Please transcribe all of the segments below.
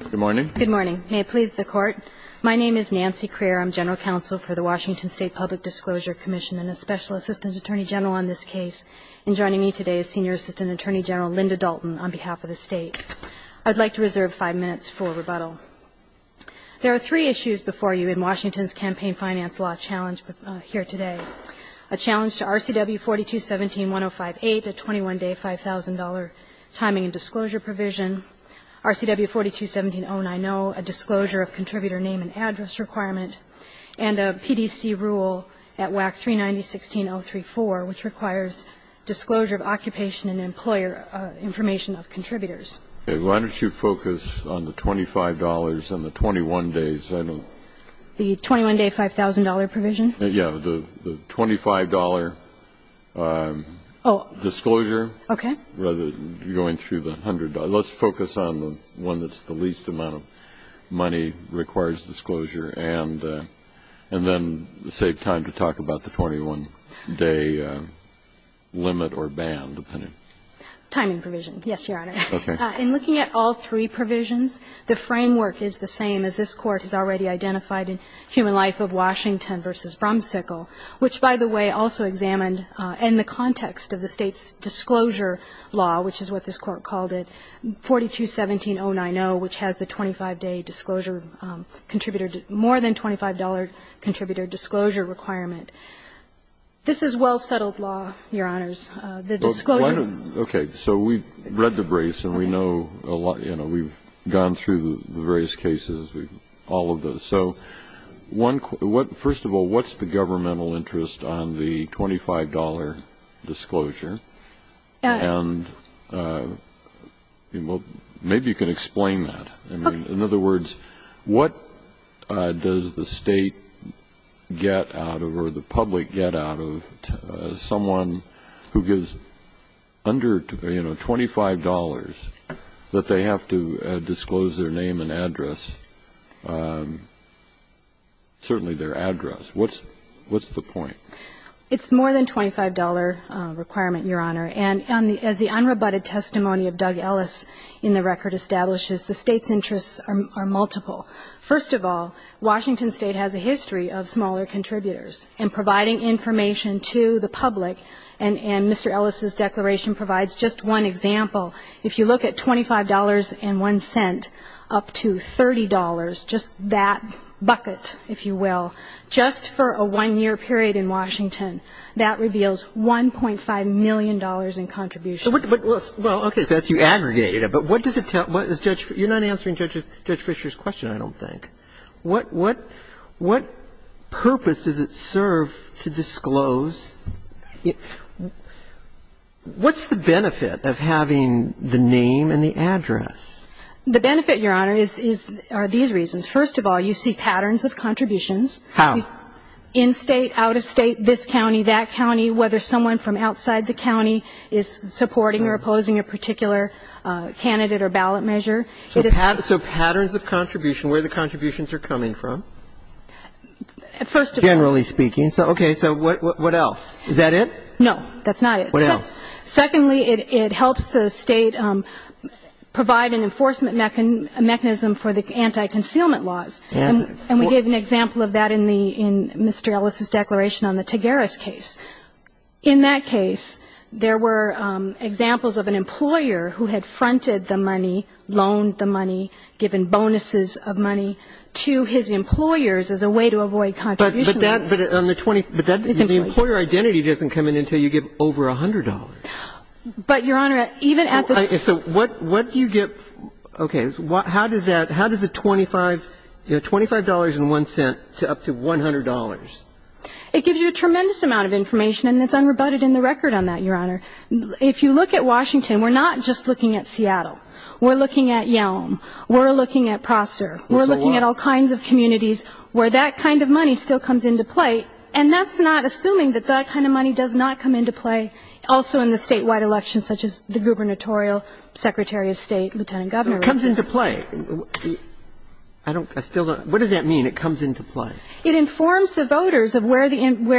Good morning. Good morning. May it please the Court. My name is Nancy Crear. I'm General Counsel for the Washington State Public Disclosure Commission and a Special Assistant Attorney General on this case. And joining me today is Senior Assistant Attorney General Linda Dalton on behalf of the state. I'd like to reserve five minutes for rebuttal. There are three issues before you in Washington's campaign finance law challenge here today. A challenge to RCW 4217-1058, a 21-day, $5,000 timing and disclosure provision. RCW 4217-090, a disclosure of contributor name and address requirement. And a PDC rule at WAC 390-16034, which requires disclosure of occupation and employer information of contributors. Why don't you focus on the $25 and the 21 days? The 21-day, $5,000 provision? Yeah, the $25 disclosure. Okay. Rather than going through the $100. Let's focus on the one that's the least amount of money, requires disclosure, and then save time to talk about the 21-day limit or ban, depending. Timing provision, yes, Your Honor. Okay. In looking at all three provisions, the framework is the same as this Court has already identified in Human Life of Washington v. Bromsickle, which, by the way, also examined in the context of the State's disclosure law, which is what this Court called it, 4217-090, which has the 25-day disclosure contributor, more than $25 contributor disclosure requirement. This is well-settled law, Your Honors. The disclosure. Okay. So we've read the brace and we know, you know, we've gone through the various cases, all of those. So first of all, what's the governmental interest on the $25 disclosure? And maybe you can explain that. Okay. In other words, what does the State get out of or the public get out of someone who gives under, you know, $25 that they have to disclose their name and address, certainly their address? What's the point? It's more than $25 requirement, Your Honor. And as the unrebutted testimony of Doug Ellis in the record establishes, the State's interests are multiple. First of all, Washington State has a history of smaller contributors. And providing information to the public, and Mr. Ellis' declaration provides just one example, if you look at $25.01 up to $30, just that bucket, if you will, just for a one-year period in Washington, that reveals $1.5 million in contributions. Well, okay. So you aggregated it. But what does it tell you? You're not answering Judge Fisher's question, I don't think. What purpose does it serve to disclose? What's the benefit of having the name and the address? The benefit, Your Honor, is these reasons. First of all, you see patterns of contributions. How? In State, out of State, this county, that county, whether someone from outside the county is supporting or opposing a particular candidate or ballot measure. So patterns of contribution, where the contributions are coming from? First of all. Generally speaking. Okay. So what else? Is that it? No, that's not it. What else? Secondly, it helps the State provide an enforcement mechanism for the anti-concealment laws. And we gave an example of that in the Mr. Ellis' declaration on the Tagaris case. In that case, there were examples of an employer who had fronted the money, loaned the money, given bonuses of money to his employers as a way to avoid contribution limits. But that, but on the 20, but that, the employer identity doesn't come in until you give over $100. But, Your Honor, even at the. So what, what do you get? Okay. How does that, how does the $25, you know, $25.01 up to $100? It gives you a tremendous amount of information, and it's unrebutted in the record on that, Your Honor. If you look at Washington, we're not just looking at Seattle. We're looking at Yelm. We're looking at Prosser. We're looking at all kinds of communities where that kind of money still comes into play, and that's not assuming that that kind of money does not come into play also in the statewide elections such as the gubernatorial, Secretary of State, Lieutenant Governor. So it comes into play. I don't, I still don't. What does that mean, it comes into play? It informs the voters of where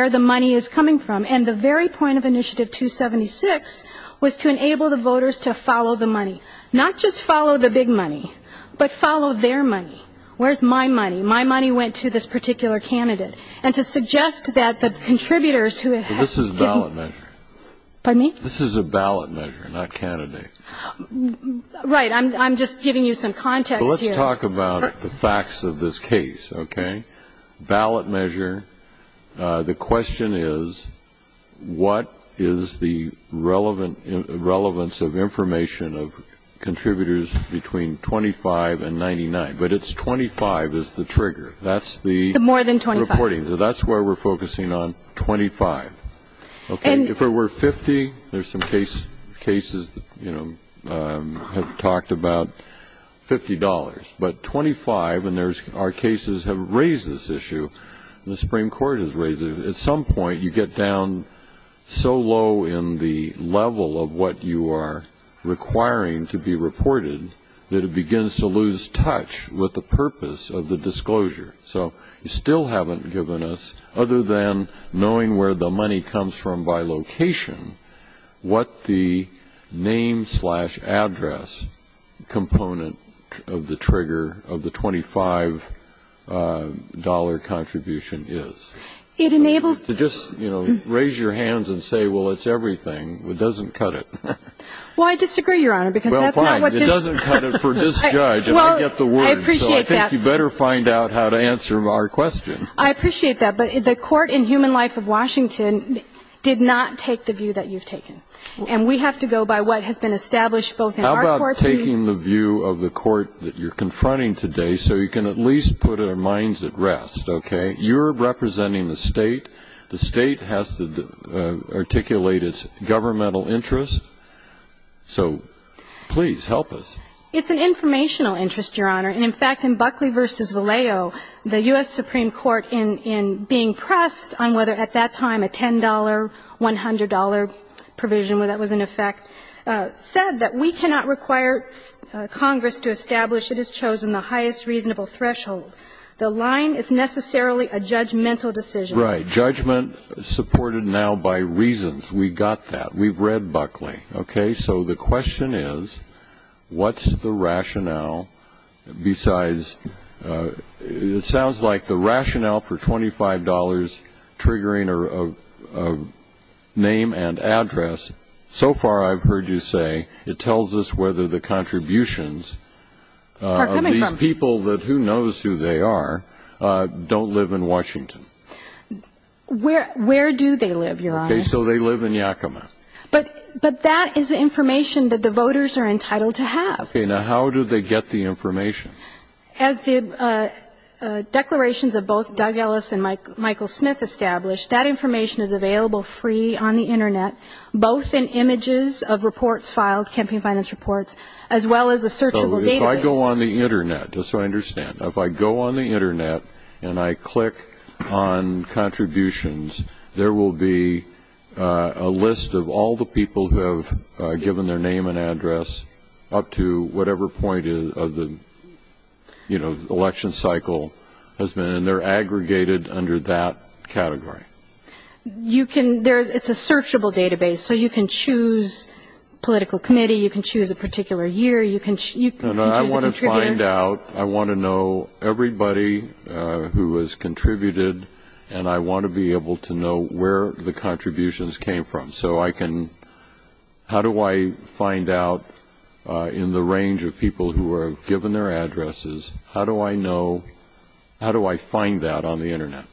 the money is coming from. And the very point of Initiative 276 was to enable the voters to follow the money, not just follow the big money, but follow their money. Where's my money? My money went to this particular candidate. And to suggest that the contributors who had given. But this is a ballot measure. Pardon me? This is a ballot measure, not candidate. Right. I'm just giving you some context here. Well, let's talk about the facts of this case, okay? Ballot measure. The question is, what is the relevance of information of contributors between 25 and 99? But it's 25 is the trigger. The more than 25. That's the reporting. That's where we're focusing on, 25. If it were 50, there's some cases that have talked about $50. But 25, and our cases have raised this issue. The Supreme Court has raised it. At some point, you get down so low in the level of what you are requiring to be reported that it begins to lose touch with the purpose of the disclosure. So you still haven't given us, other than knowing where the money comes from by location, what the name-slash-address component of the trigger of the $25 contribution is. It enables. To just raise your hands and say, well, it's everything. It doesn't cut it. Well, I disagree, Your Honor, because that's not what this. Well, fine. It doesn't cut it for this judge. And I get the words. I appreciate that. You better find out how to answer our question. I appreciate that. But the court in Human Life of Washington did not take the view that you've taken. And we have to go by what has been established both in our courts. How about taking the view of the court that you're confronting today so you can at least put our minds at rest, okay? You're representing the state. The state has to articulate its governmental interest. So please, help us. It's an informational interest, Your Honor. And, in fact, in Buckley v. Vallejo, the U.S. Supreme Court in being pressed on whether at that time a $10, $100 provision, whether that was in effect, said that we cannot require Congress to establish it has chosen the highest reasonable threshold. The line is necessarily a judgmental decision. Right. Judgment supported now by reasons. We've got that. We've read Buckley, okay? So the question is, what's the rationale besides, it sounds like the rationale for $25 triggering a name and address, so far I've heard you say it tells us whether the contributions of these people that who knows who they are don't live in Washington. Where do they live, Your Honor? Okay. So they live in Yakima. But that is information that the voters are entitled to have. Okay. Now, how do they get the information? As the declarations of both Doug Ellis and Michael Smith established, that information is available free on the Internet, both in images of reports filed, campaign finance reports, as well as a searchable database. So if I go on the Internet, just so I understand, if I go on the Internet and I click on contributions, there will be a list of all the people who have given their name and address up to whatever point of the election cycle has been, and they're aggregated under that category. It's a searchable database, so you can choose political committee, you can choose a particular year, you can choose a contributor. How do I find out? I want to know everybody who has contributed, and I want to be able to know where the contributions came from. So I can, how do I find out in the range of people who have given their addresses, how do I know, how do I find that on the Internet?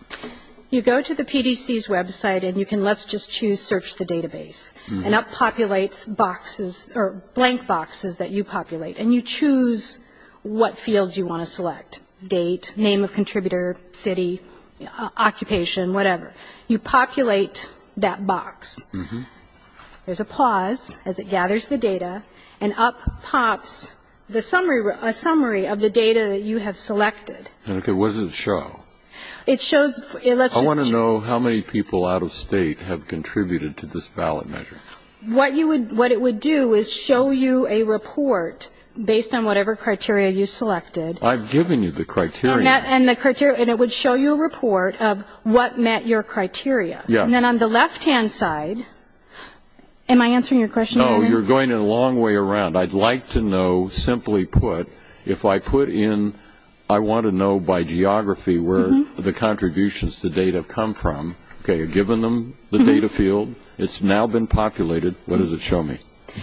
You go to the PDC's website, and you can let's just choose search the database. And that populates boxes, or blank boxes that you populate. And you choose what fields you want to select. Date, name of contributor, city, occupation, whatever. You populate that box. There's a pause as it gathers the data, and up pops the summary of the data that you have selected. Okay. What does it show? It shows, let's just choose. I want to know how many people out of State have contributed to this ballot measure. What it would do is show you a report based on whatever criteria you selected. I've given you the criteria. And it would show you a report of what met your criteria. Yes. And then on the left-hand side, am I answering your question? No, you're going a long way around. I'd like to know, simply put, if I put in, I want to know by geography where the contributions to date have come from. Okay, you've given them the data field. It's now been populated. What does it show me?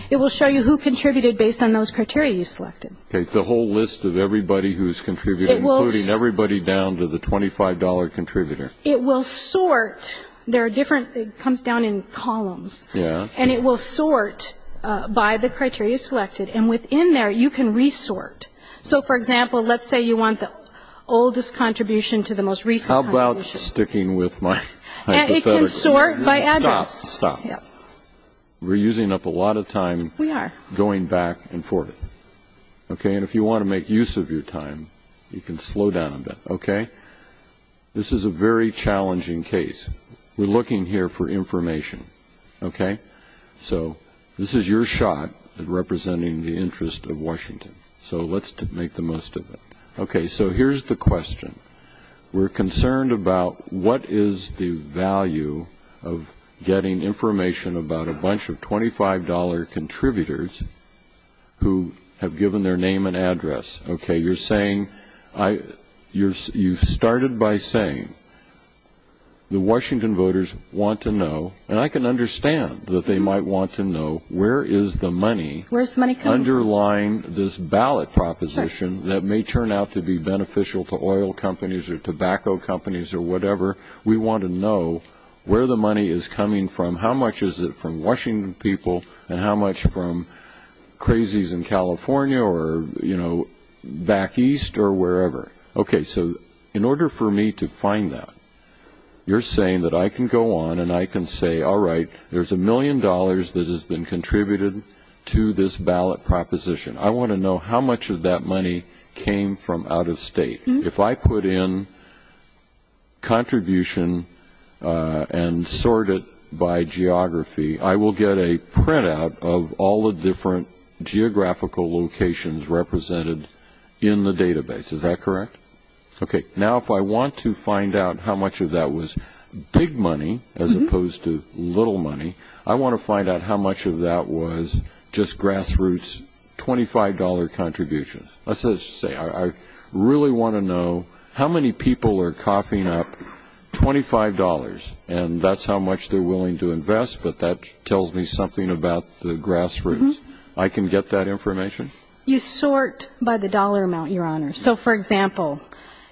It will show you who contributed based on those criteria you selected. Okay, the whole list of everybody who's contributed, including everybody down to the $25 contributor. It will sort. There are different, it comes down in columns. Yes. And it will sort by the criteria selected. And within there, you can re-sort. So, for example, let's say you want the oldest contribution to the most recent contribution. How about sticking with my hypothetical? It can sort by address. Stop, stop. We're using up a lot of time going back and forth. Okay, and if you want to make use of your time, you can slow down a bit, okay? This is a very challenging case. We're looking here for information, okay? So this is your shot at representing the interest of Washington. So let's make the most of it. Okay, so here's the question. We're concerned about what is the value of getting information about a bunch of $25 contributors who have given their name and address. Okay, you're saying, you started by saying the Washington voters want to know, and I can understand that they might want to know, where is the money underlying this ballot proposition that may turn out to be beneficial to oil companies or tobacco companies or whatever? We want to know where the money is coming from, how much is it from Washington people, and how much from crazies in California or, you know, back east or wherever. Okay, so in order for me to find that, you're saying that I can go on and I can say, all right, there's a million dollars that has been contributed to this ballot proposition. I want to know how much of that money came from out of state. If I put in contribution and sort it by geography, I will get a printout of all the different geographical locations represented in the database. Is that correct? Okay, now if I want to find out how much of that was big money as opposed to little money, I want to find out how much of that was just grassroots $25 contributions. Let's just say I really want to know how many people are coughing up $25, and that's how much they're willing to invest, but that tells me something about the grassroots. I can get that information? You sort by the dollar amount, Your Honor. So, for example,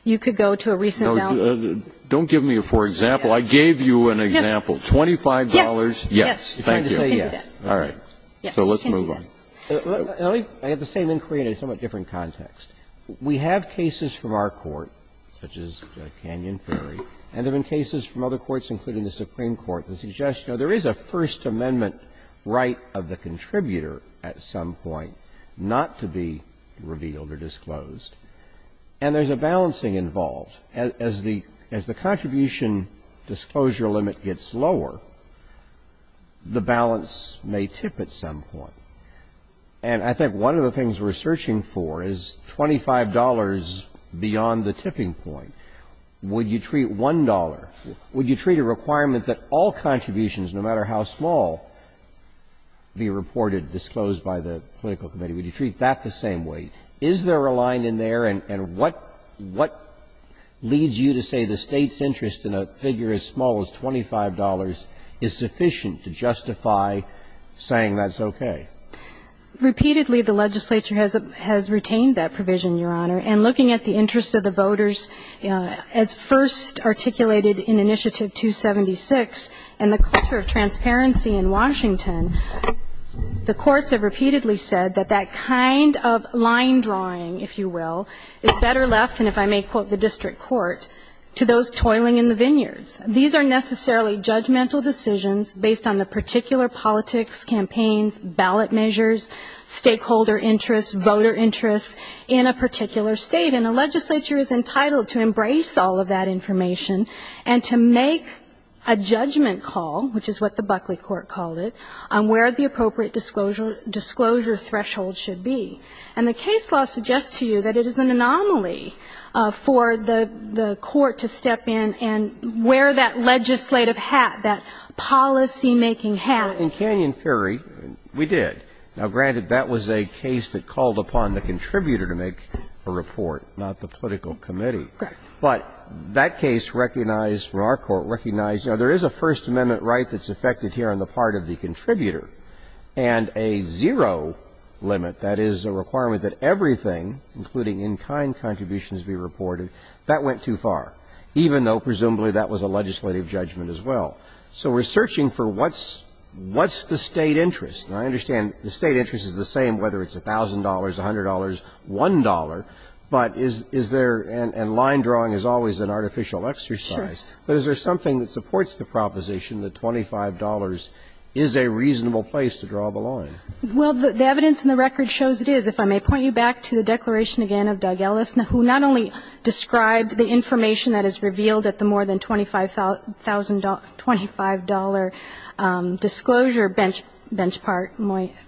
you could go to a recent ballot. Don't give me a for example. I gave you an example. $25. Yes. Thank you. All right. So let's move on. I have the same inquiry in a somewhat different context. We have cases from our court, such as Canyon Ferry, and there have been cases from other courts, including the Supreme Court, that suggest, you know, there is a First Amendment right of the contributor at some point not to be revealed or disclosed. And there's a balancing involved. As the contribution disclosure limit gets lower, the balance may tip at some point. And I think one of the things we're searching for is $25 beyond the tipping point. Would you treat $1? Would you treat a requirement that all contributions, no matter how small, be reported, disclosed by the political committee? Would you treat that the same way? Is there a line in there? And what leads you to say the State's interest in a figure as small as $25 is sufficient to justify saying that's okay? Repeatedly, the legislature has retained that provision, Your Honor. And looking at the interest of the voters, as first articulated in Initiative 276 and the culture of transparency in Washington, the courts have repeatedly said that that kind of line drawing, if you will, is better left, and if I may quote the district court, to those toiling in the vineyards. These are necessarily judgmental decisions based on the particular politics, campaigns, ballot measures, stakeholder interests, voter interests in a particular State. And the legislature is entitled to embrace all of that information and to make a judgment call, which is what the Buckley court called it, on where the appropriate disclosure threshold should be. And the case law suggests to you that it is an anomaly for the court to step in and wear that legislative hat, that policymaking hat. In Canyon Fury, we did. Now, granted, that was a case that called upon the contributor to make a report, not the political committee. But that case recognized, from our court, recognized, you know, there is a First Amendment right that's affected here on the part of the contributor, and a zero limit, that is, a requirement that everything, including in-kind contributions, be reported, that went too far, even though presumably that was a legislative judgment as well. So we're searching for what's the State interest. And I understand the State interest is the same whether it's $1,000, $100, $1. But is there, and line drawing is always an artificial exercise, but is there something that supports the proposition that $25 is a reasonable place to draw the line? Well, the evidence in the record shows it is. If I may point you back to the declaration again of Doug Ellis, who not only described the information that is revealed at the more than $25,000 disclosure bench part,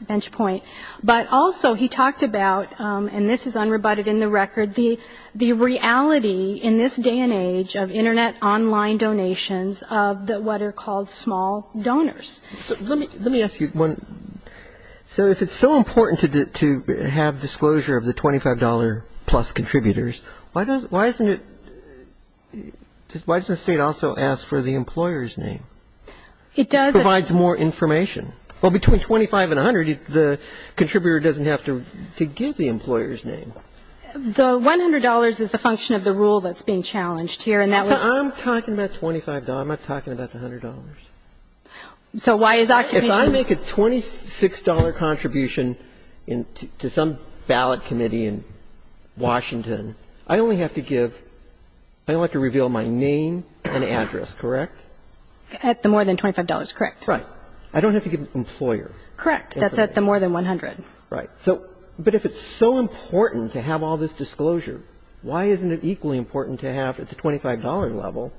bench point, but also he talked about, and this is unrebutted in the record, the reality in this day and age of Internet online donations of what are called small donors. So let me ask you one. So if it's so important to have disclosure of the $25-plus contributors, why doesn't it, why doesn't the State also ask for the employer's name? It does. It provides more information. Well, between $25 and $100, the contributor doesn't have to give the employer's name. The $100 is the function of the rule that's being challenged here, and that was the $25. I'm not talking about the $100. So why is occupation? If I make a $26 contribution to some ballot committee in Washington, I only have to give, I only have to reveal my name and address, correct? At the more than $25, correct. Right. I don't have to give the employer. Correct. That's at the more than $100. Right. So, but if it's so important to have all this disclosure, why isn't it equally important to have at the $25 level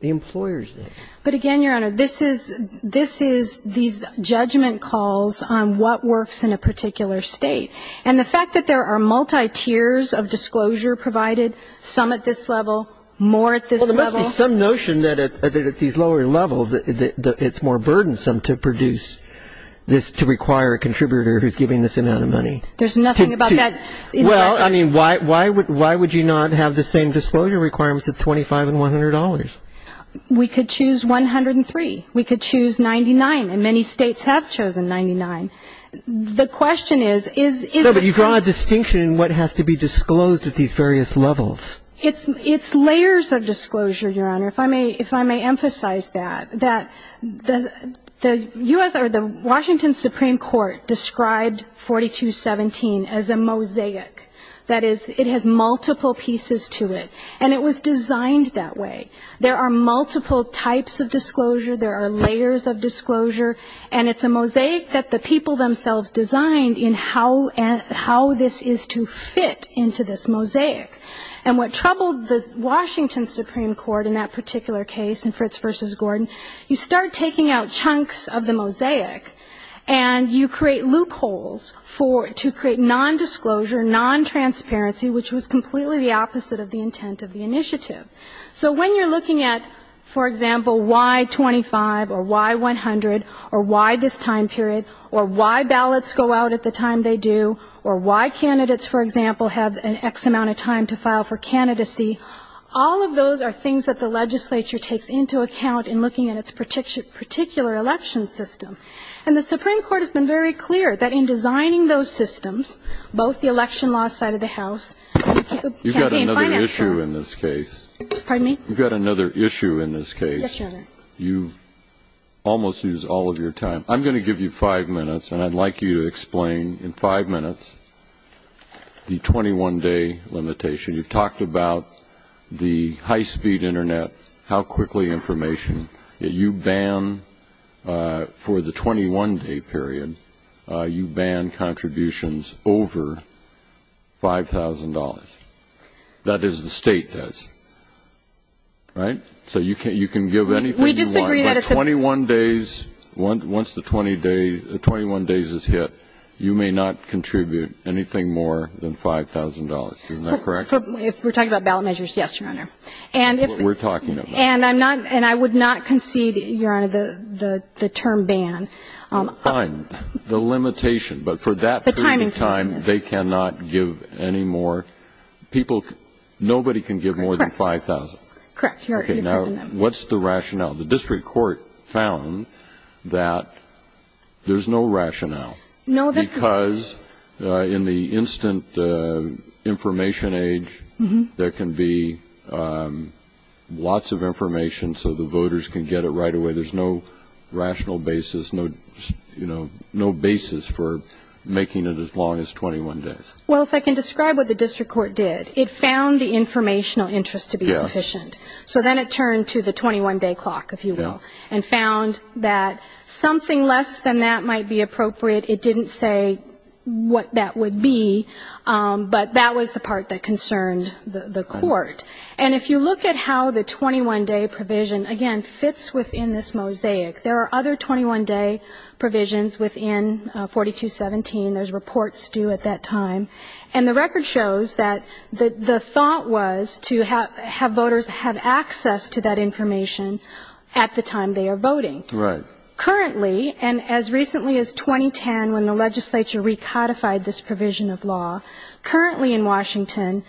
the employer's name? But again, Your Honor, this is, this is these judgment calls on what works in a particular State. And the fact that there are multi-tiers of disclosure provided, some at this level, more at this level. There must be some notion that at these lower levels it's more burdensome to produce this, to require a contributor who's giving this amount of money. There's nothing about that. Well, I mean, why would you not have the same disclosure requirements at $25 and $100? We could choose 103. We could choose 99, and many States have chosen 99. The question is, is it. No, but you draw a distinction in what has to be disclosed at these various levels. It's layers of disclosure, Your Honor, if I may, if I may emphasize that. The U.S. or the Washington Supreme Court described 4217 as a mosaic. That is, it has multiple pieces to it. And it was designed that way. There are multiple types of disclosure. There are layers of disclosure. And it's a mosaic that the people themselves designed in how this is to fit into this mosaic. And what troubled the Washington Supreme Court in that particular case in Fritz v. Gordon, you start taking out chunks of the mosaic, and you create loopholes to create nondisclosure, nontransparency, which was completely the opposite of the intent of the initiative. So when you're looking at, for example, why 25 or why 100 or why this time period or why ballots go out at the time they do or why candidates, for example, have an excess amount of time to file for candidacy, all of those are things that the legislature takes into account in looking at its particular election system. And the Supreme Court has been very clear that in designing those systems, both the election law side of the House and the campaign finance side. You've got another issue in this case. Pardon me? You've got another issue in this case. Yes, Your Honor. You've almost used all of your time. I'm going to give you five minutes, and I'd like you to explain in five minutes the 21-day limitation. You've talked about the high-speed Internet, how quickly information. You ban, for the 21-day period, you ban contributions over $5,000. That is the state does. Right? So you can give anything you want. We disagree that it's a... Once the 21 days is hit, you may not contribute anything more than $5,000. Isn't that correct? If we're talking about ballot measures, yes, Your Honor. That's what we're talking about. And I would not concede, Your Honor, the term ban. Fine. The limitation. But for that period of time, they cannot give any more. Nobody can give more than $5,000. Correct. You're correct in that. Now, what's the rationale? The district court found that there's no rationale. Because in the instant information age, there can be lots of information so the voters can get it right away. There's no rational basis, no basis for making it as long as 21 days. Well, if I can describe what the district court did, it found the informational interest to be sufficient. So then it turned to the 21-day clock, if you will, and found that something less than that might be appropriate. It didn't say what that would be, but that was the part that concerned the court. And if you look at how the 21-day provision, again, fits within this mosaic, there are other 21-day provisions within 4217. There's reports due at that time. And the record shows that the thought was to have voters have access to that information at the time they are voting. Right. Currently, and as recently as 2010, when the legislature recodified this provision of law, currently in Washington,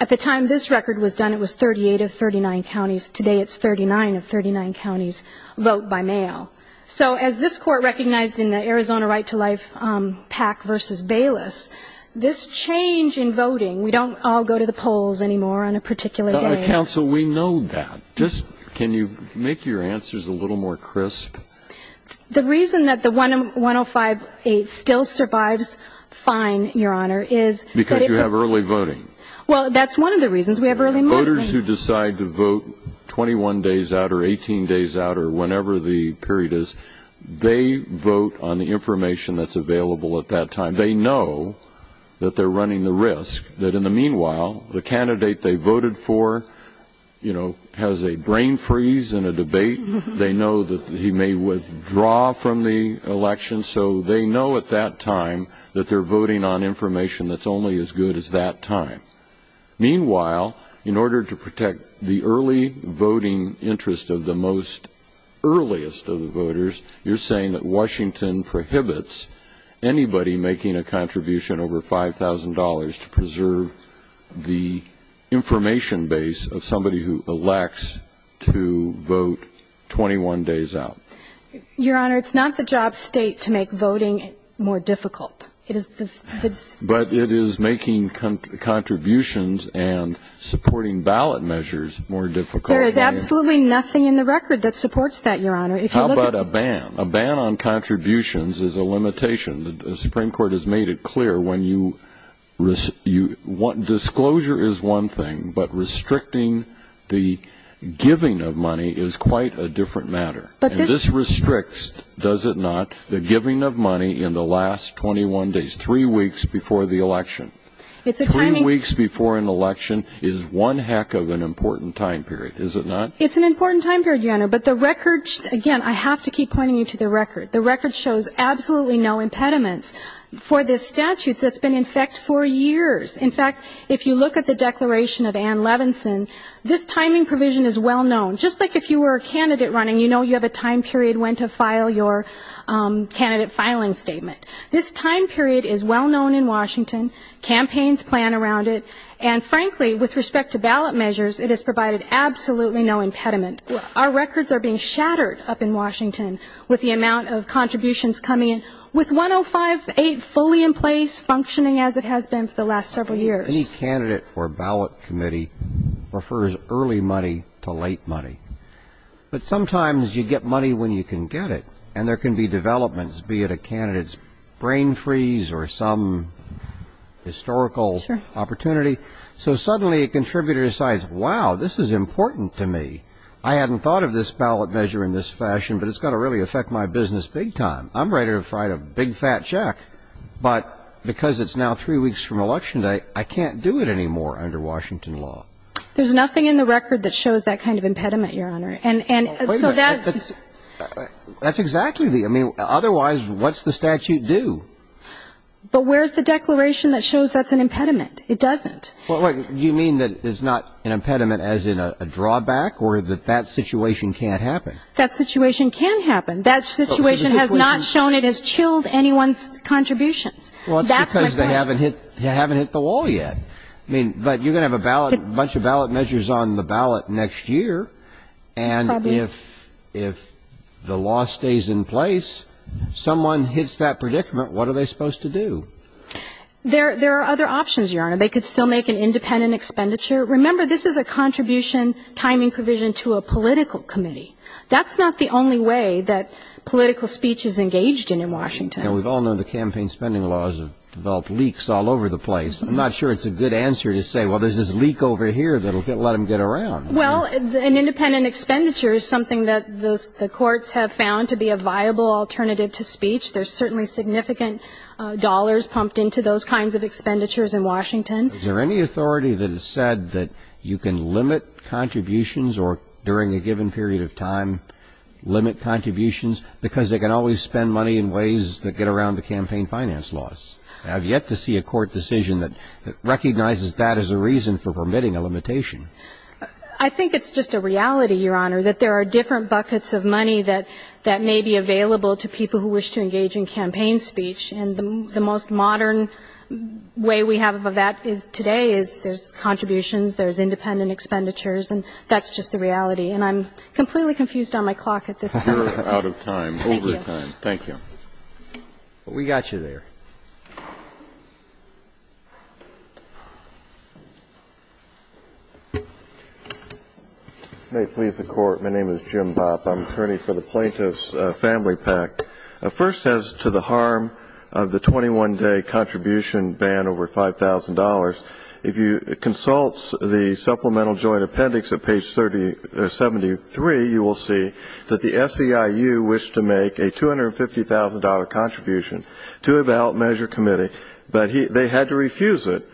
at the time this record was done, it was 38 of 39 counties. Today it's 39 of 39 counties vote by mail. So as this court recognized in the Arizona Right to Life PAC versus Bayless, this change in voting, we don't all go to the polls anymore on a particular day. Counsel, we know that. Just can you make your answers a little more crisp? The reason that the 105-8 still survives fine, Your Honor, is that if you have early voting. Well, that's one of the reasons. We have early voting. Voters who decide to vote 21 days out or 18 days out or whenever the period is, they vote on the information that's available at that time. They know that they're running the risk that in the meanwhile, the candidate they voted for, you know, has a brain freeze in a debate. They know that he may withdraw from the election. So they know at that time that they're voting on information that's only as good as that time. Meanwhile, in order to protect the early voting interest of the most earliest of the voters, you're saying that Washington prohibits anybody making a contribution over $5,000 to preserve the information base of somebody who elects to vote 21 days out. Your Honor, it's not the job state to make voting more difficult. But it is making contributions and supporting ballot measures more difficult. There is absolutely nothing in the record that supports that, Your Honor. How about a ban? A ban on contributions is a limitation. The Supreme Court has made it clear. Disclosure is one thing, but restricting the giving of money is quite a different matter. This restricts, does it not, the giving of money in the last 21 days, three weeks before the election. Three weeks before an election is one heck of an important time period, is it not? It's an important time period, Your Honor. But the record, again, I have to keep pointing you to the record. The record shows absolutely no impediments for this statute that's been in effect for years. In fact, if you look at the declaration of Ann Levinson, this timing provision is well known. Just like if you were a candidate running, you know you have a time period when to file your candidate filing statement. This time period is well known in Washington. Campaigns plan around it. And frankly, with respect to ballot measures, it has provided absolutely no impediment. Our records are being shattered up in Washington with the amount of contributions coming in. With 105.8 fully in place, functioning as it has been for the last several years. Any candidate or ballot committee prefers early money to late money. But sometimes you get money when you can get it. And there can be developments, be it a candidate's brain freeze or some historical opportunity. So suddenly a contributor decides, wow, this is important to me. I hadn't thought of this ballot measure in this fashion, but it's going to really affect my business big time. I'm ready to write a big, fat check. But because it's now three weeks from election day, I can't do it anymore under Washington law. There's nothing in the record that shows that kind of impediment, Your Honor. And so that's exactly the otherwise what's the statute do? But where's the declaration that shows that's an impediment? It doesn't. You mean that it's not an impediment as in a drawback or that that situation can't happen? That situation can happen. That situation has not shown it has chilled anyone's contributions. Well, it's because they haven't hit the wall yet. But you're going to have a bunch of ballot measures on the ballot next year. And if the law stays in place, someone hits that predicament, what are they supposed to do? There are other options, Your Honor. They could still make an independent expenditure. Remember, this is a contribution timing provision to a political committee. That's not the only way that political speech is engaged in in Washington. Now, we've all known the campaign spending laws have developed leaks all over the place. I'm not sure it's a good answer to say, well, there's this leak over here that will let them get around. Well, an independent expenditure is something that the courts have found to be a viable alternative to speech. There's certainly significant dollars pumped into those kinds of expenditures in Washington. Is there any authority that has said that you can limit contributions or during a given period of time limit contributions because they can always spend money in ways that get around the campaign finance laws? I have yet to see a court decision that recognizes that as a reason for permitting a limitation. I think it's just a reality, Your Honor, that there are different buckets of money that may be available to people who wish to engage in campaign speech, and the most modern way we have of that is today is there's contributions, there's independent expenditures, and that's just the reality. And I'm completely confused on my clock at this point. You're out of time, over time. Thank you. Thank you. We got you there. May it please the Court. My name is Jim Bopp. I'm an attorney for the Plaintiff's Family PAC. First, as to the harm of the 21-day contribution ban over $5,000, if you consult the supplemental joint appendix at page 73, you will see that the SEIU wished to make a $250,000 contribution to a ballot measure committee, but they had to refuse it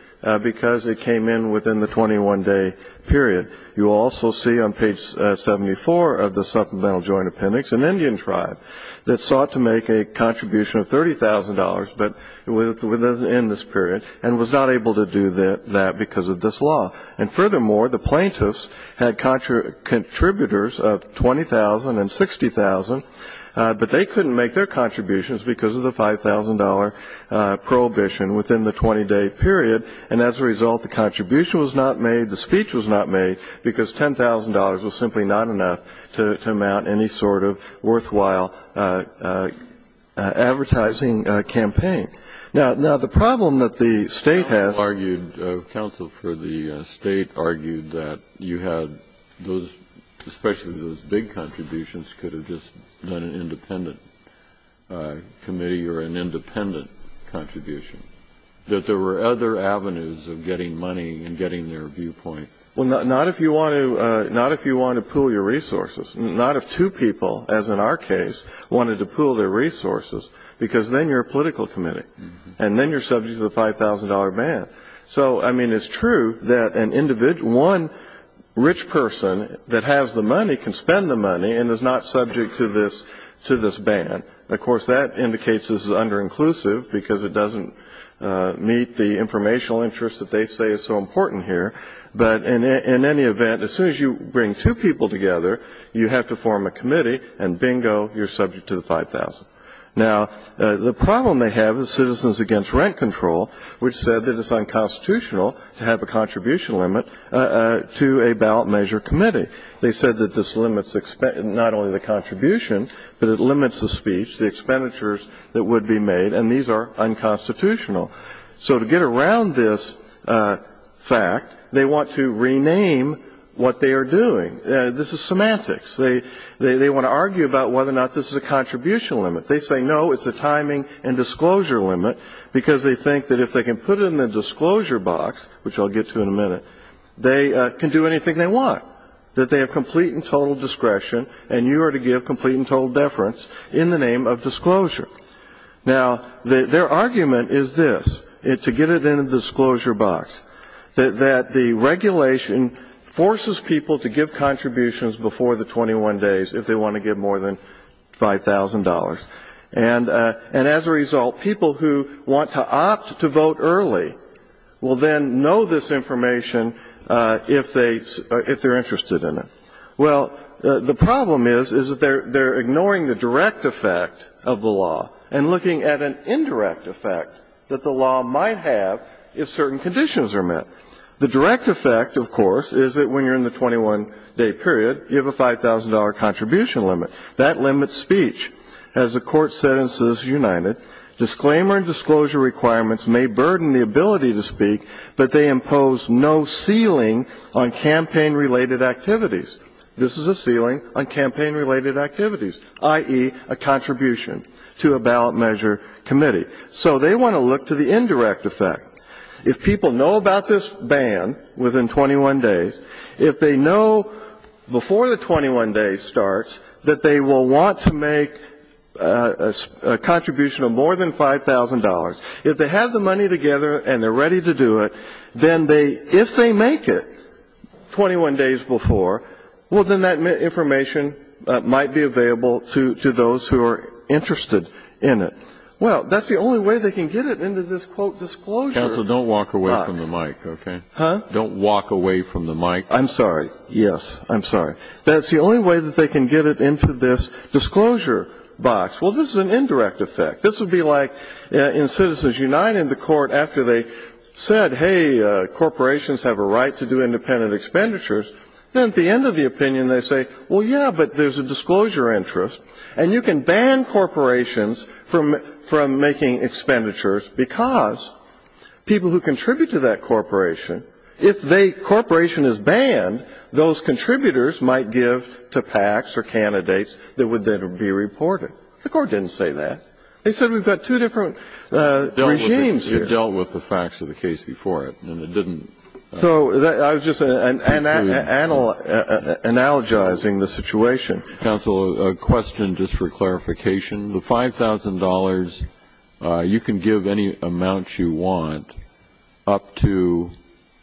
because it came in within the 21-day period. You also see on page 74 of the supplemental joint appendix an Indian tribe that sought to make a contribution of $30,000, but within this period, and was not able to do that because of this law. And furthermore, the plaintiffs had contributors of $20,000 and $60,000, but they couldn't make their contributions because of the $5,000 prohibition within the 20-day period, and as a result the contribution was not made, the speech was not made, because $10,000 was simply not enough to mount any sort of worthwhile advertising campaign. Now, the problem that the State has argued, counsel for the State argued, that you had those, especially those big contributions, could have just been an independent committee or an independent contribution. That there were other avenues of getting money and getting their viewpoint. Well, not if you want to pool your resources. Not if two people, as in our case, wanted to pool their resources, because then you're a political committee, and then you're subject to the $5,000 ban. So, I mean, it's true that one rich person that has the money can spend the money and is not subject to this ban. Of course, that indicates this is under-inclusive, because it doesn't meet the informational interest that they say is so important here. But in any event, as soon as you bring two people together, you have to form a committee, and bingo, you're subject to the $5,000. Now, the problem they have is Citizens Against Rent Control, which said that it's unconstitutional to have a contribution limit to a ballot measure committee. They said that this limits not only the contribution, but it limits the speech, the expenditures that would be made, and these are unconstitutional. So to get around this fact, they want to rename what they are doing. This is semantics. They want to argue about whether or not this is a contribution limit. They say, no, it's a timing and disclosure limit, because they think that if they can put it in the disclosure box, which I'll get to in a minute, they can do anything they want, that they have complete and total discretion, and you are to give complete and total deference in the name of disclosure. Now, their argument is this, to get it in the disclosure box, that the regulation forces people to give contributions before the 21 days if they want to give more than $5,000. And as a result, people who want to opt to vote early will then know this information if they are interested in it. Well, the problem is, is that they are ignoring the direct effect of the law and looking at an indirect effect that the law might have if certain conditions are met. The direct effect, of course, is that when you are in the 21-day period, you have a $5,000 contribution limit. That limits speech. As the Court said in Citizens United, disclaimer and disclosure requirements may burden the ability to speak, but they impose no ceiling on campaign-related activities. This is a ceiling on campaign-related activities, i.e., a contribution to a ballot measure committee. So they want to look to the indirect effect. If people know about this ban within 21 days, if they know before the 21 days starts that they will want to make a contribution of more than $5,000, if they have the money together and they are ready to do it, then they, if they make it 21 days before, well, then that information might be available to those who are interested in it. Well, that's the only way they can get it into this, quote, disclosure box. Kennedy. Counsel, don't walk away from the mic, okay? Huh? Don't walk away from the mic. I'm sorry. Yes, I'm sorry. That's the only way that they can get it into this disclosure box. Well, this is an indirect effect. This would be like in Citizens United, the Court, after they said, hey, corporations have a right to do independent expenditures, then at the end of the opinion they say, well, yeah, but there's a disclosure interest. And you can ban corporations from making expenditures because people who contribute to that corporation, if they, corporation is banned, those contributors might give to PACs or candidates that would then be reported. The Court didn't say that. They said we've got two different regimes here. It dealt with the facts of the case before it, and it didn't. So I was just analogizing the situation. Counsel, a question just for clarification. The $5,000, you can give any amount you want up to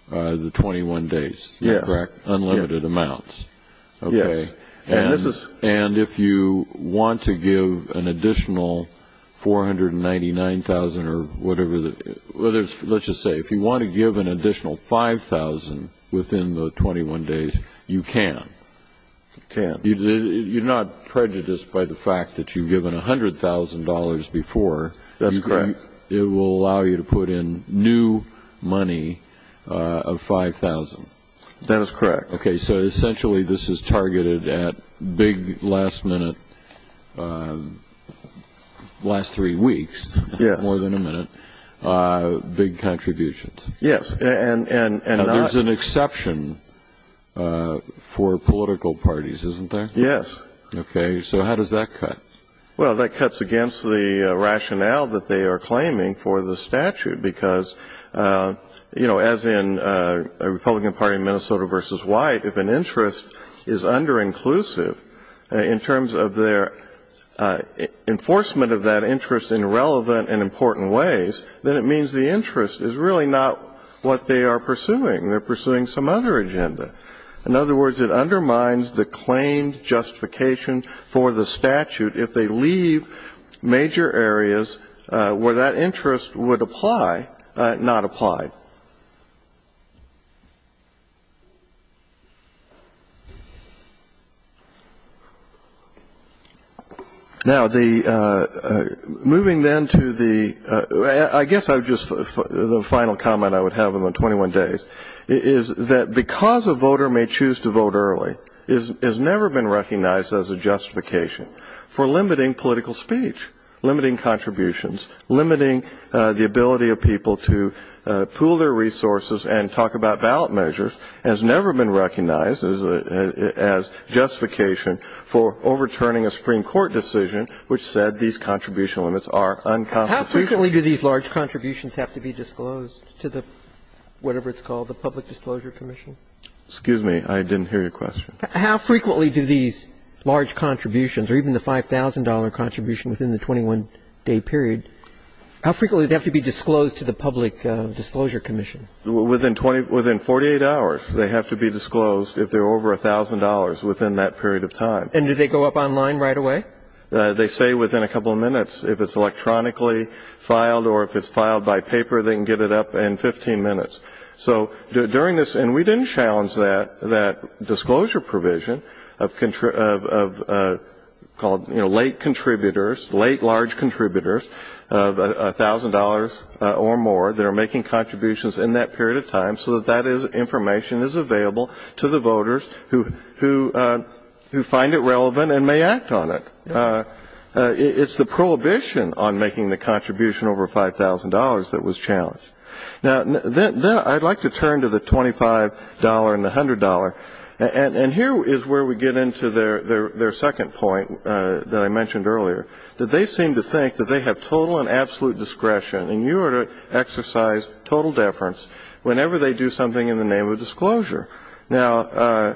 the 21 days, correct? Yes. Unlimited amounts. Yes. Okay. And if you want to give an additional $499,000 or whatever, let's just say, if you want to give an additional $5,000 within the 21 days, you can? I can. You're not prejudiced by the fact that you've given $100,000 before. That's correct. It will allow you to put in new money of $5,000. That is correct. Okay. So essentially this is targeted at big last minute, last three weeks, more than a minute, big contributions. Yes. Now, there's an exception for political parties, isn't there? Yes. Okay. So how does that cut? Well, that cuts against the rationale that they are claiming for the statute, because, you know, as in a Republican Party, Minnesota versus White, if an interest is under-inclusive in terms of their enforcement of that interest in relevant and important ways, then it means the interest is really not what they are pursuing. They're pursuing some other agenda. In other words, it undermines the claimed justification for the statute if they leave major areas where that interest would apply, not apply. Now, moving then to the ‑‑ I guess the final comment I would have in the 21 days is that because a voter may choose to vote early, it has never been recognized as a justification for limiting political speech, limiting contributions, limiting the ability of people to put in money of $5,000, and talk about ballot measures, has never been recognized as justification for overturning a Supreme Court decision which said these contribution limits are unconstitutional. How frequently do these large contributions have to be disclosed to the whatever it's called, the Public Disclosure Commission? Excuse me. I didn't hear your question. How frequently do these large contributions, or even the $5,000 contribution within the 21-day period, how frequently do they have to be disclosed to the Public Disclosure Commission? Within 48 hours, they have to be disclosed if they're over $1,000 within that period of time. And do they go up online right away? They say within a couple of minutes. If it's electronically filed or if it's filed by paper, they can get it up in 15 minutes. So during this, and we didn't challenge that disclosure provision of late contributors, late large contributors of $1,000 or more that are making contributions in that period of time, so that that information is available to the voters who find it relevant and may act on it. It's the prohibition on making the contribution over $5,000 that was challenged. Now, I'd like to turn to the $25 and the $100. And here is where we get into their second point that I mentioned earlier, that they seem to think that they have total and absolute discretion, and you are to exercise total deference whenever they do something in the name of disclosure. Now,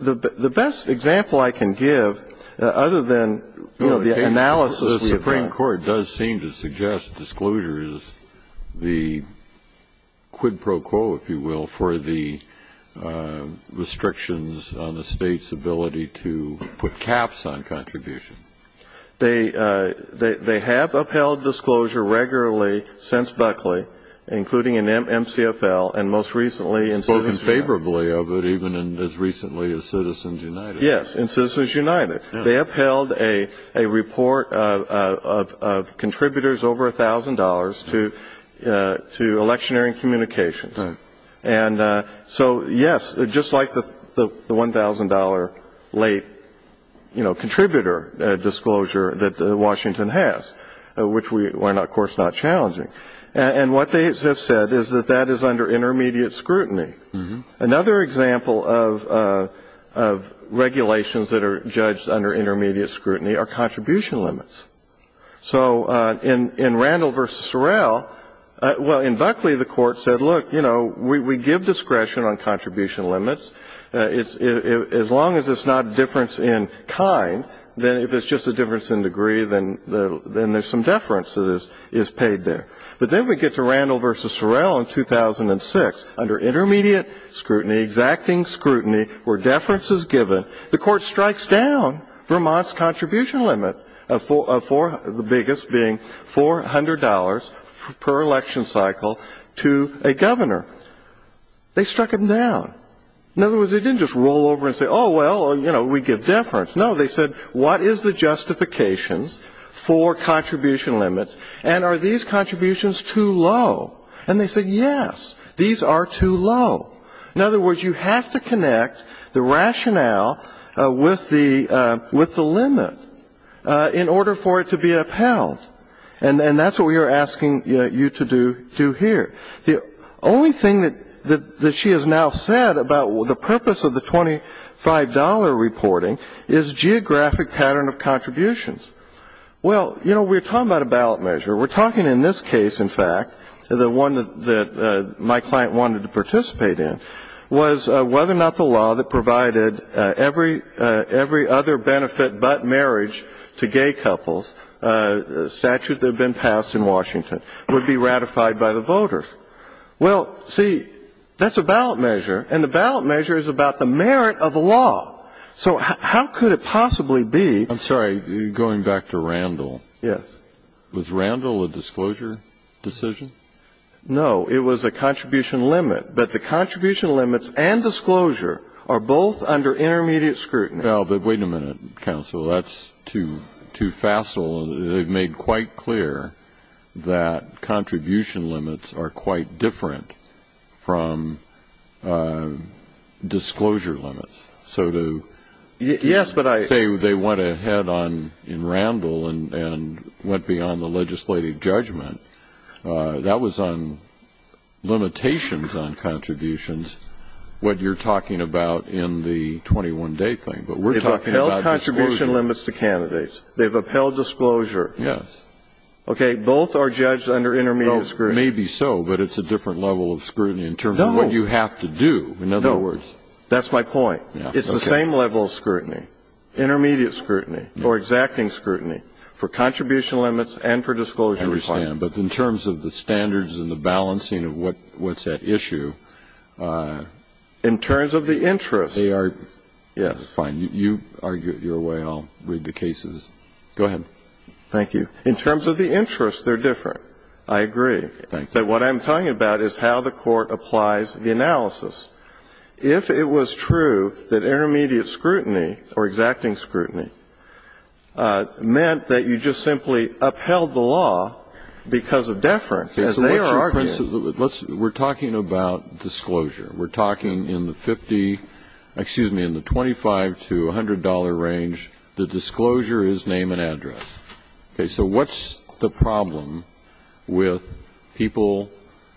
the best example I can give, other than, you know, the analysis we have done. The court does seem to suggest disclosure is the quid pro quo, if you will, for the restrictions on the state's ability to put caps on contributions. They have upheld disclosure regularly since Buckley, including in MCFL, and most recently in Citizens United. Spoken favorably of it even as recently as Citizens United. Yes, in Citizens United. They upheld a report of contributors over $1,000 to electioneering communications. Right. And so, yes, just like the $1,000 late, you know, contributor disclosure that Washington has, which we are, of course, not challenging. And what they have said is that that is under intermediate scrutiny. Another example of regulations that are judged under intermediate scrutiny are contribution limits. So in Randall v. Sorrell, well, in Buckley, the court said, look, you know, we give discretion on contribution limits. As long as it's not a difference in kind, then if it's just a difference in degree, then there's some deference that is paid there. But then we get to Randall v. Sorrell in 2006. Under intermediate scrutiny, exacting scrutiny, where deference is given, the court strikes down Vermont's contribution limit of the biggest being $400 per election cycle to a governor. They struck them down. In other words, they didn't just roll over and say, oh, well, you know, we give deference. No, they said, what is the justifications for contribution limits, and are these contributions too low? And they said, yes, these are too low. In other words, you have to connect the rationale with the limit in order for it to be upheld. And that's what we are asking you to do here. The only thing that she has now said about the purpose of the $25 reporting is geographic pattern of contributions. Well, you know, we're talking about a ballot measure. We're talking in this case, in fact, the one that my client wanted to participate in, was whether or not the law that provided every other benefit but marriage to gay couples, a statute that had been passed in Washington, would be ratified by the voters. Well, see, that's a ballot measure, and the ballot measure is about the merit of a law. So how could it possibly be? I'm sorry. Going back to Randall. Yes. Was Randall a disclosure decision? No. It was a contribution limit. But the contribution limits and disclosure are both under intermediate scrutiny. Well, but wait a minute, counsel. That's too facile. They've made quite clear that contribution limits are quite different from disclosure limits. So to say they went ahead in Randall and went beyond the legislative judgment, that was on limitations on contributions, what you're talking about in the 21-day thing. But we're talking about disclosure. They've upheld contribution limits to candidates. They've upheld disclosure. Yes. Okay. Both are judged under intermediate scrutiny. Maybe so, but it's a different level of scrutiny in terms of what you have to do. No. That's my point. It's the same level of scrutiny. Intermediate scrutiny or exacting scrutiny for contribution limits and for disclosure. I understand. But in terms of the standards and the balancing of what's at issue. In terms of the interest. They are. Yes. Fine. You argue it your way. I'll read the cases. Go ahead. Thank you. In terms of the interest, they're different. I agree. Thank you. So what I'm talking about is how the Court applies the analysis. If it was true that intermediate scrutiny or exacting scrutiny meant that you just simply upheld the law because of deference, as they are arguing. So what's your principle? We're talking about disclosure. We're talking in the 50, excuse me, in the 25 to $100 range, the disclosure is name and address. Okay. So what's the problem with people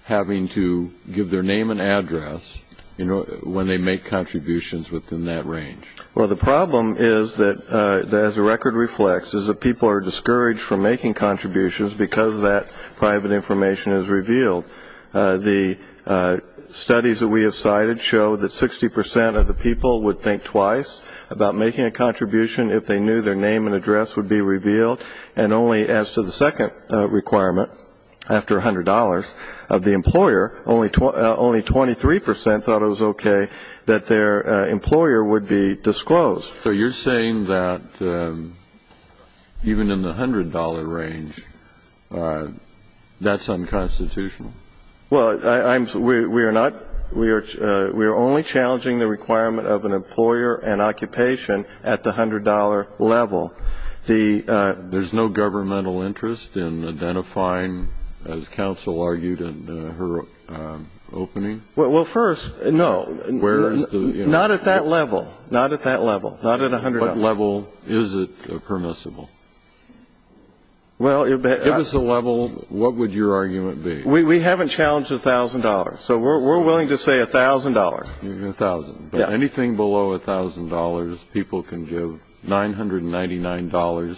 having to give their name and address, you know, when they make contributions within that range? Well, the problem is that, as the record reflects, is that people are discouraged from making contributions because that private information is revealed. The studies that we have cited show that 60 percent of the people would think twice about making a contribution if they knew their name and address would be revealed, and only as to the second requirement, after $100, of the employer, only 23 percent thought it was okay that their employer would be disclosed. So you're saying that even in the $100 range, that's unconstitutional? Well, I'm sorry. We are not. We are only challenging the requirement of an employer and occupation at the $100 level. The ---- There's no governmental interest in identifying, as counsel argued in her opening? Well, first, no. Where is the ---- Not at that level. Not at that level. Not at $100. What level is it permissible? Well, it ---- Give us a level. What would your argument be? We haven't challenged $1,000. So we're willing to say $1,000. $1,000. But anything below $1,000, people can give. $999,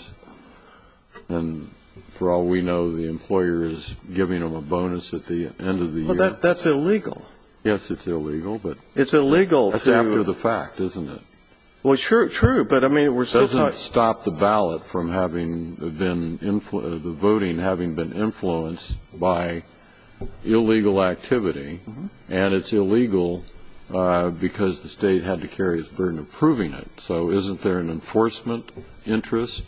and for all we know, the employer is giving them a bonus at the end of the year. Well, that's illegal. Yes, it's illegal, but ---- It's illegal to ---- That's after the fact, isn't it? Well, true, true, but I mean, we're still talking ---- Illegal activity, and it's illegal because the State had to carry the burden of proving it. So isn't there an enforcement interest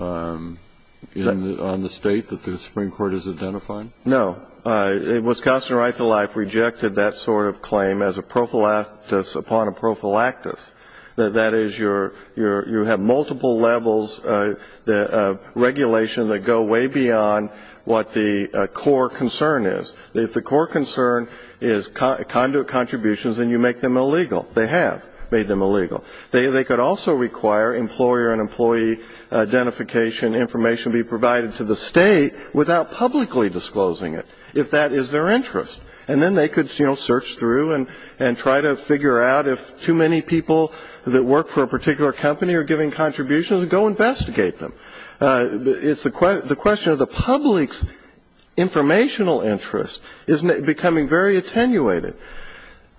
on the State that the Supreme Court is identifying? No. Wisconsin right to life rejected that sort of claim as a prophylactis upon a prophylactis. That is, you have multiple levels of regulation that go way beyond what the core concern is. If the core concern is conduit contributions, then you make them illegal. They have made them illegal. They could also require employer and employee identification information be provided to the State without publicly disclosing it, if that is their interest. And then they could, you know, search through and try to figure out if too many people that work for a particular company are giving contributions and go investigate them. It's the question of the public's informational interest is becoming very attenuated,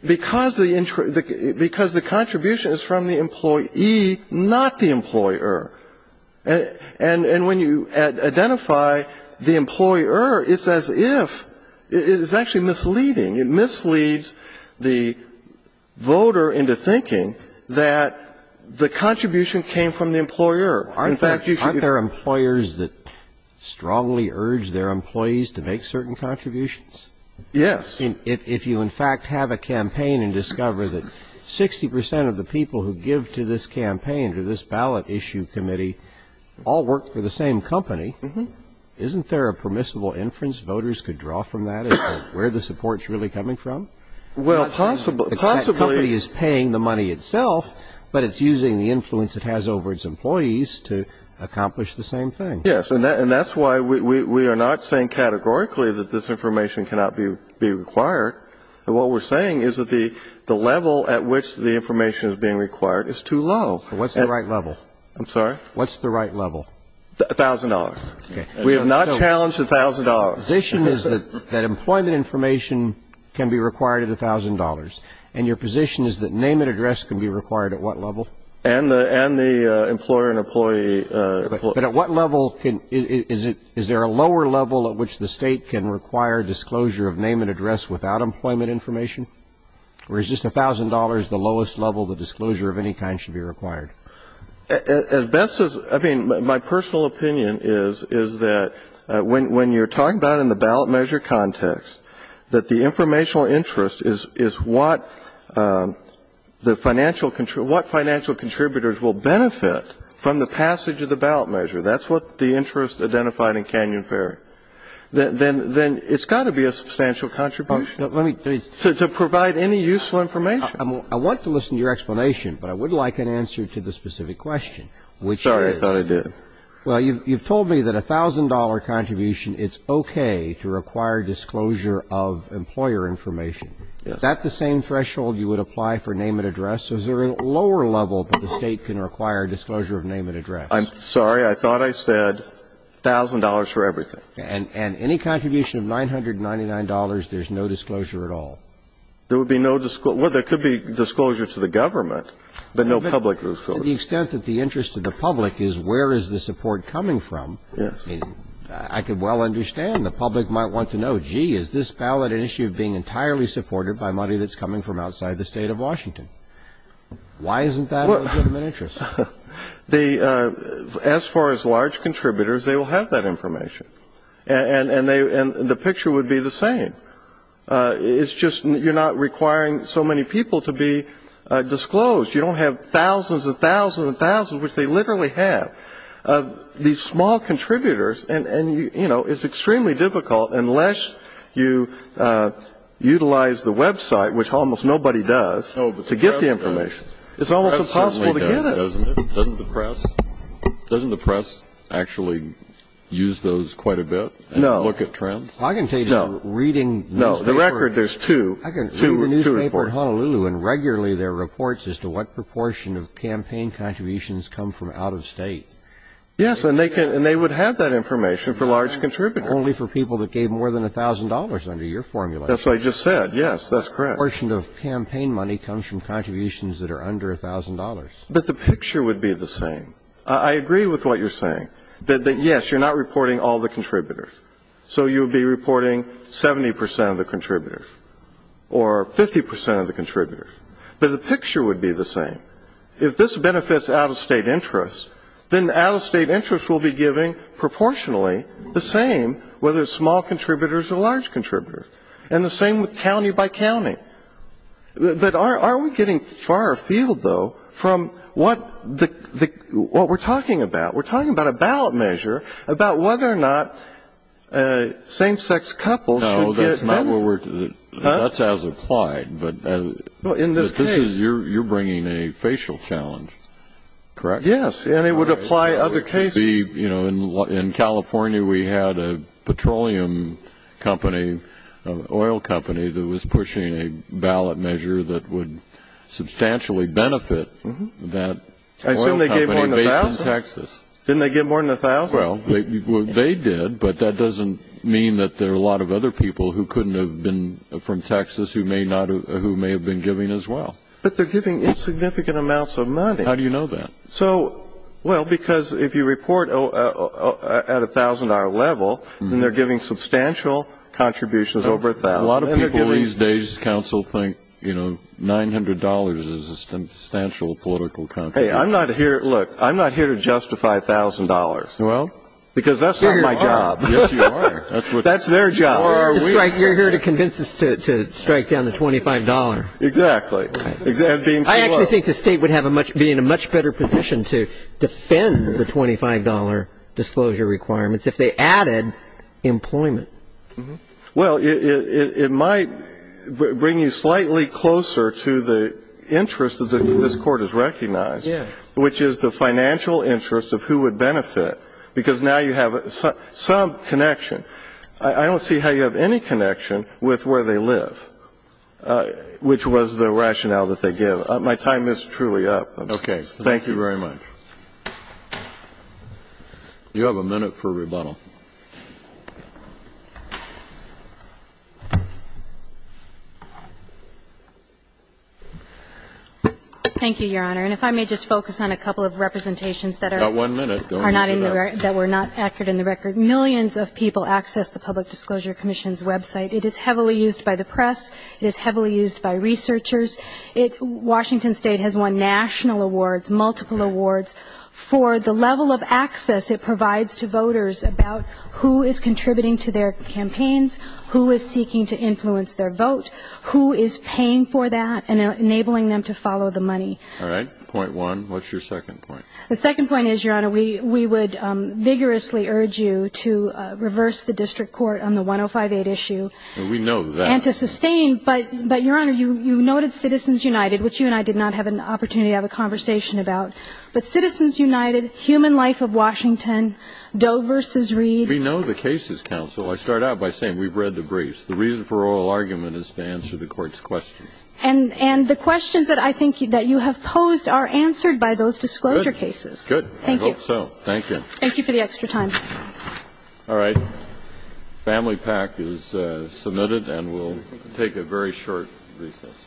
because the contribution is from the employee, not the employer. And when you identify the employer, it's as if it's actually misleading. It misleads the voter into thinking that the contribution came from the employer. Aren't there employers that strongly urge their employees to make certain contributions? Yes. If you, in fact, have a campaign and discover that 60 percent of the people who give to this campaign or this ballot issue committee all work for the same company, isn't there a permissible inference voters could draw from that as to where the support's really coming from? Well, possibly. The company is paying the money itself, but it's using the influence it has over its employees to accomplish the same thing. Yes. And that's why we are not saying categorically that this information cannot be required. And what we're saying is that the level at which the information is being required is too low. What's the right level? I'm sorry? What's the right level? $1,000. Okay. We have not challenged $1,000. Your position is that employment information can be required at $1,000, and your position is that name and address can be required at what level? And the employer and employee. But at what level can ‑‑ is there a lower level at which the State can require disclosure of name and address without employment information? Or is just $1,000 the lowest level the disclosure of any kind should be required? As best as ‑‑ I mean, my personal opinion is that when you're talking about in the ballot measure context that the informational interest is what the financial ‑‑ what financial contributors will benefit from the passage of the ballot measure. That's what the interest identified in Canyon Fair. Then it's got to be a substantial contribution to provide any useful information. I want to listen to your explanation, but I would like an answer to the specific question, which is ‑‑ Sorry. I thought I did. Well, you've told me that a $1,000 contribution, it's okay to require disclosure of employer information. Is that the same threshold you would apply for name and address? Is there a lower level that the State can require disclosure of name and address? I'm sorry. I thought I said $1,000 for everything. And any contribution of $999, there's no disclosure at all. There would be no ‑‑ well, there could be disclosure to the government, but no public disclosure. To the extent that the interest of the public is where is the support coming from ‑‑ Yes. I could well understand. The public might want to know, gee, is this ballot an issue of being entirely supported by money that's coming from outside the State of Washington? Why isn't that of interest? As far as large contributors, they will have that information. And the picture would be the same. It's just you're not requiring so many people to be disclosed. You don't have thousands and thousands and thousands, which they literally have. These small contributors ‑‑ and, you know, it's extremely difficult unless you utilize the website, which almost nobody does, to get the information. It's almost impossible to get it. Doesn't the press actually use those quite a bit and look at trends? No. I can tell you just reading the newspaper ‑‑ No. The record, there's two. I can read the newspaper at Honolulu and regularly there are reports as to what proportion of campaign contributions come from out of State. Yes, and they would have that information for large contributors. Only for people that gave more than $1,000 under your formulation. That's what I just said. Yes, that's correct. The proportion of campaign money comes from contributions that are under $1,000. But the picture would be the same. I agree with what you're saying, that, yes, you're not reporting all the contributors. So you would be reporting 70 percent of the contributors or 50 percent of the contributors. But the picture would be the same. If this benefits out-of-State interest, then the out-of-State interest will be given proportionally the same, whether it's small contributors or large contributors. And the same with county-by-county. But are we getting far afield, though, from what we're talking about? We're talking about a ballot measure about whether or not same-sex couples should get ‑‑ No, that's not what we're ‑‑ Huh? That's as applied, but this is ‑‑ Well, in this case ‑‑ You're bringing a facial challenge, correct? Yes, and it would apply other cases. In California, we had a petroleum company, an oil company, that was pushing a ballot measure that would substantially benefit that oil company based in Texas. I assume they gave more than a thousand? Didn't they give more than a thousand? Well, they did, but that doesn't mean that there are a lot of other people who couldn't have been from Texas who may have been giving as well. But they're giving insignificant amounts of money. How do you know that? Well, because if you report at a thousand-dollar level, then they're giving substantial contributions over a thousand. A lot of people these days, counsel, think $900 is a substantial political contribution. Hey, look, I'm not here to justify $1,000. Well? Because that's not my job. Yes, you are. That's their job. You're here to convince us to strike down the $25. Exactly. And being too low. Well, it might bring you slightly closer to the interest that this Court has recognized, which is the financial interest of who would benefit, because now you have some connection. I don't see how you have any connection with where they live, which was the rationale that they give. My time is truly up. Thank you very much. Thank you. Thank you very much. You have a minute for rebuttal. Thank you, Your Honor. And if I may just focus on a couple of representations that are not accurate in the record. Millions of people access the Public Disclosure Commission's website. It is heavily used by the press. It is heavily used by researchers. Washington State has won national awards, multiple awards for the level of access it provides to voters about who is contributing to their campaigns, who is seeking to influence their vote, who is paying for that and enabling them to follow the money. All right. Point one. What's your second point? The second point is, Your Honor, we would vigorously urge you to reverse the district court on the 1058 issue. We know that. And to sustain. But, Your Honor, you noted Citizens United, which you and I did not have an opportunity to have a conversation about. But Citizens United, Human Life of Washington, Doe v. Reed. We know the cases, Counsel. I start out by saying we've read the briefs. The reason for oral argument is to answer the Court's questions. And the questions that I think that you have posed are answered by those disclosure cases. Good. Thank you. I hope so. Thank you. Thank you for the extra time. All right. Family PAC is submitted, and we'll take a very short recess.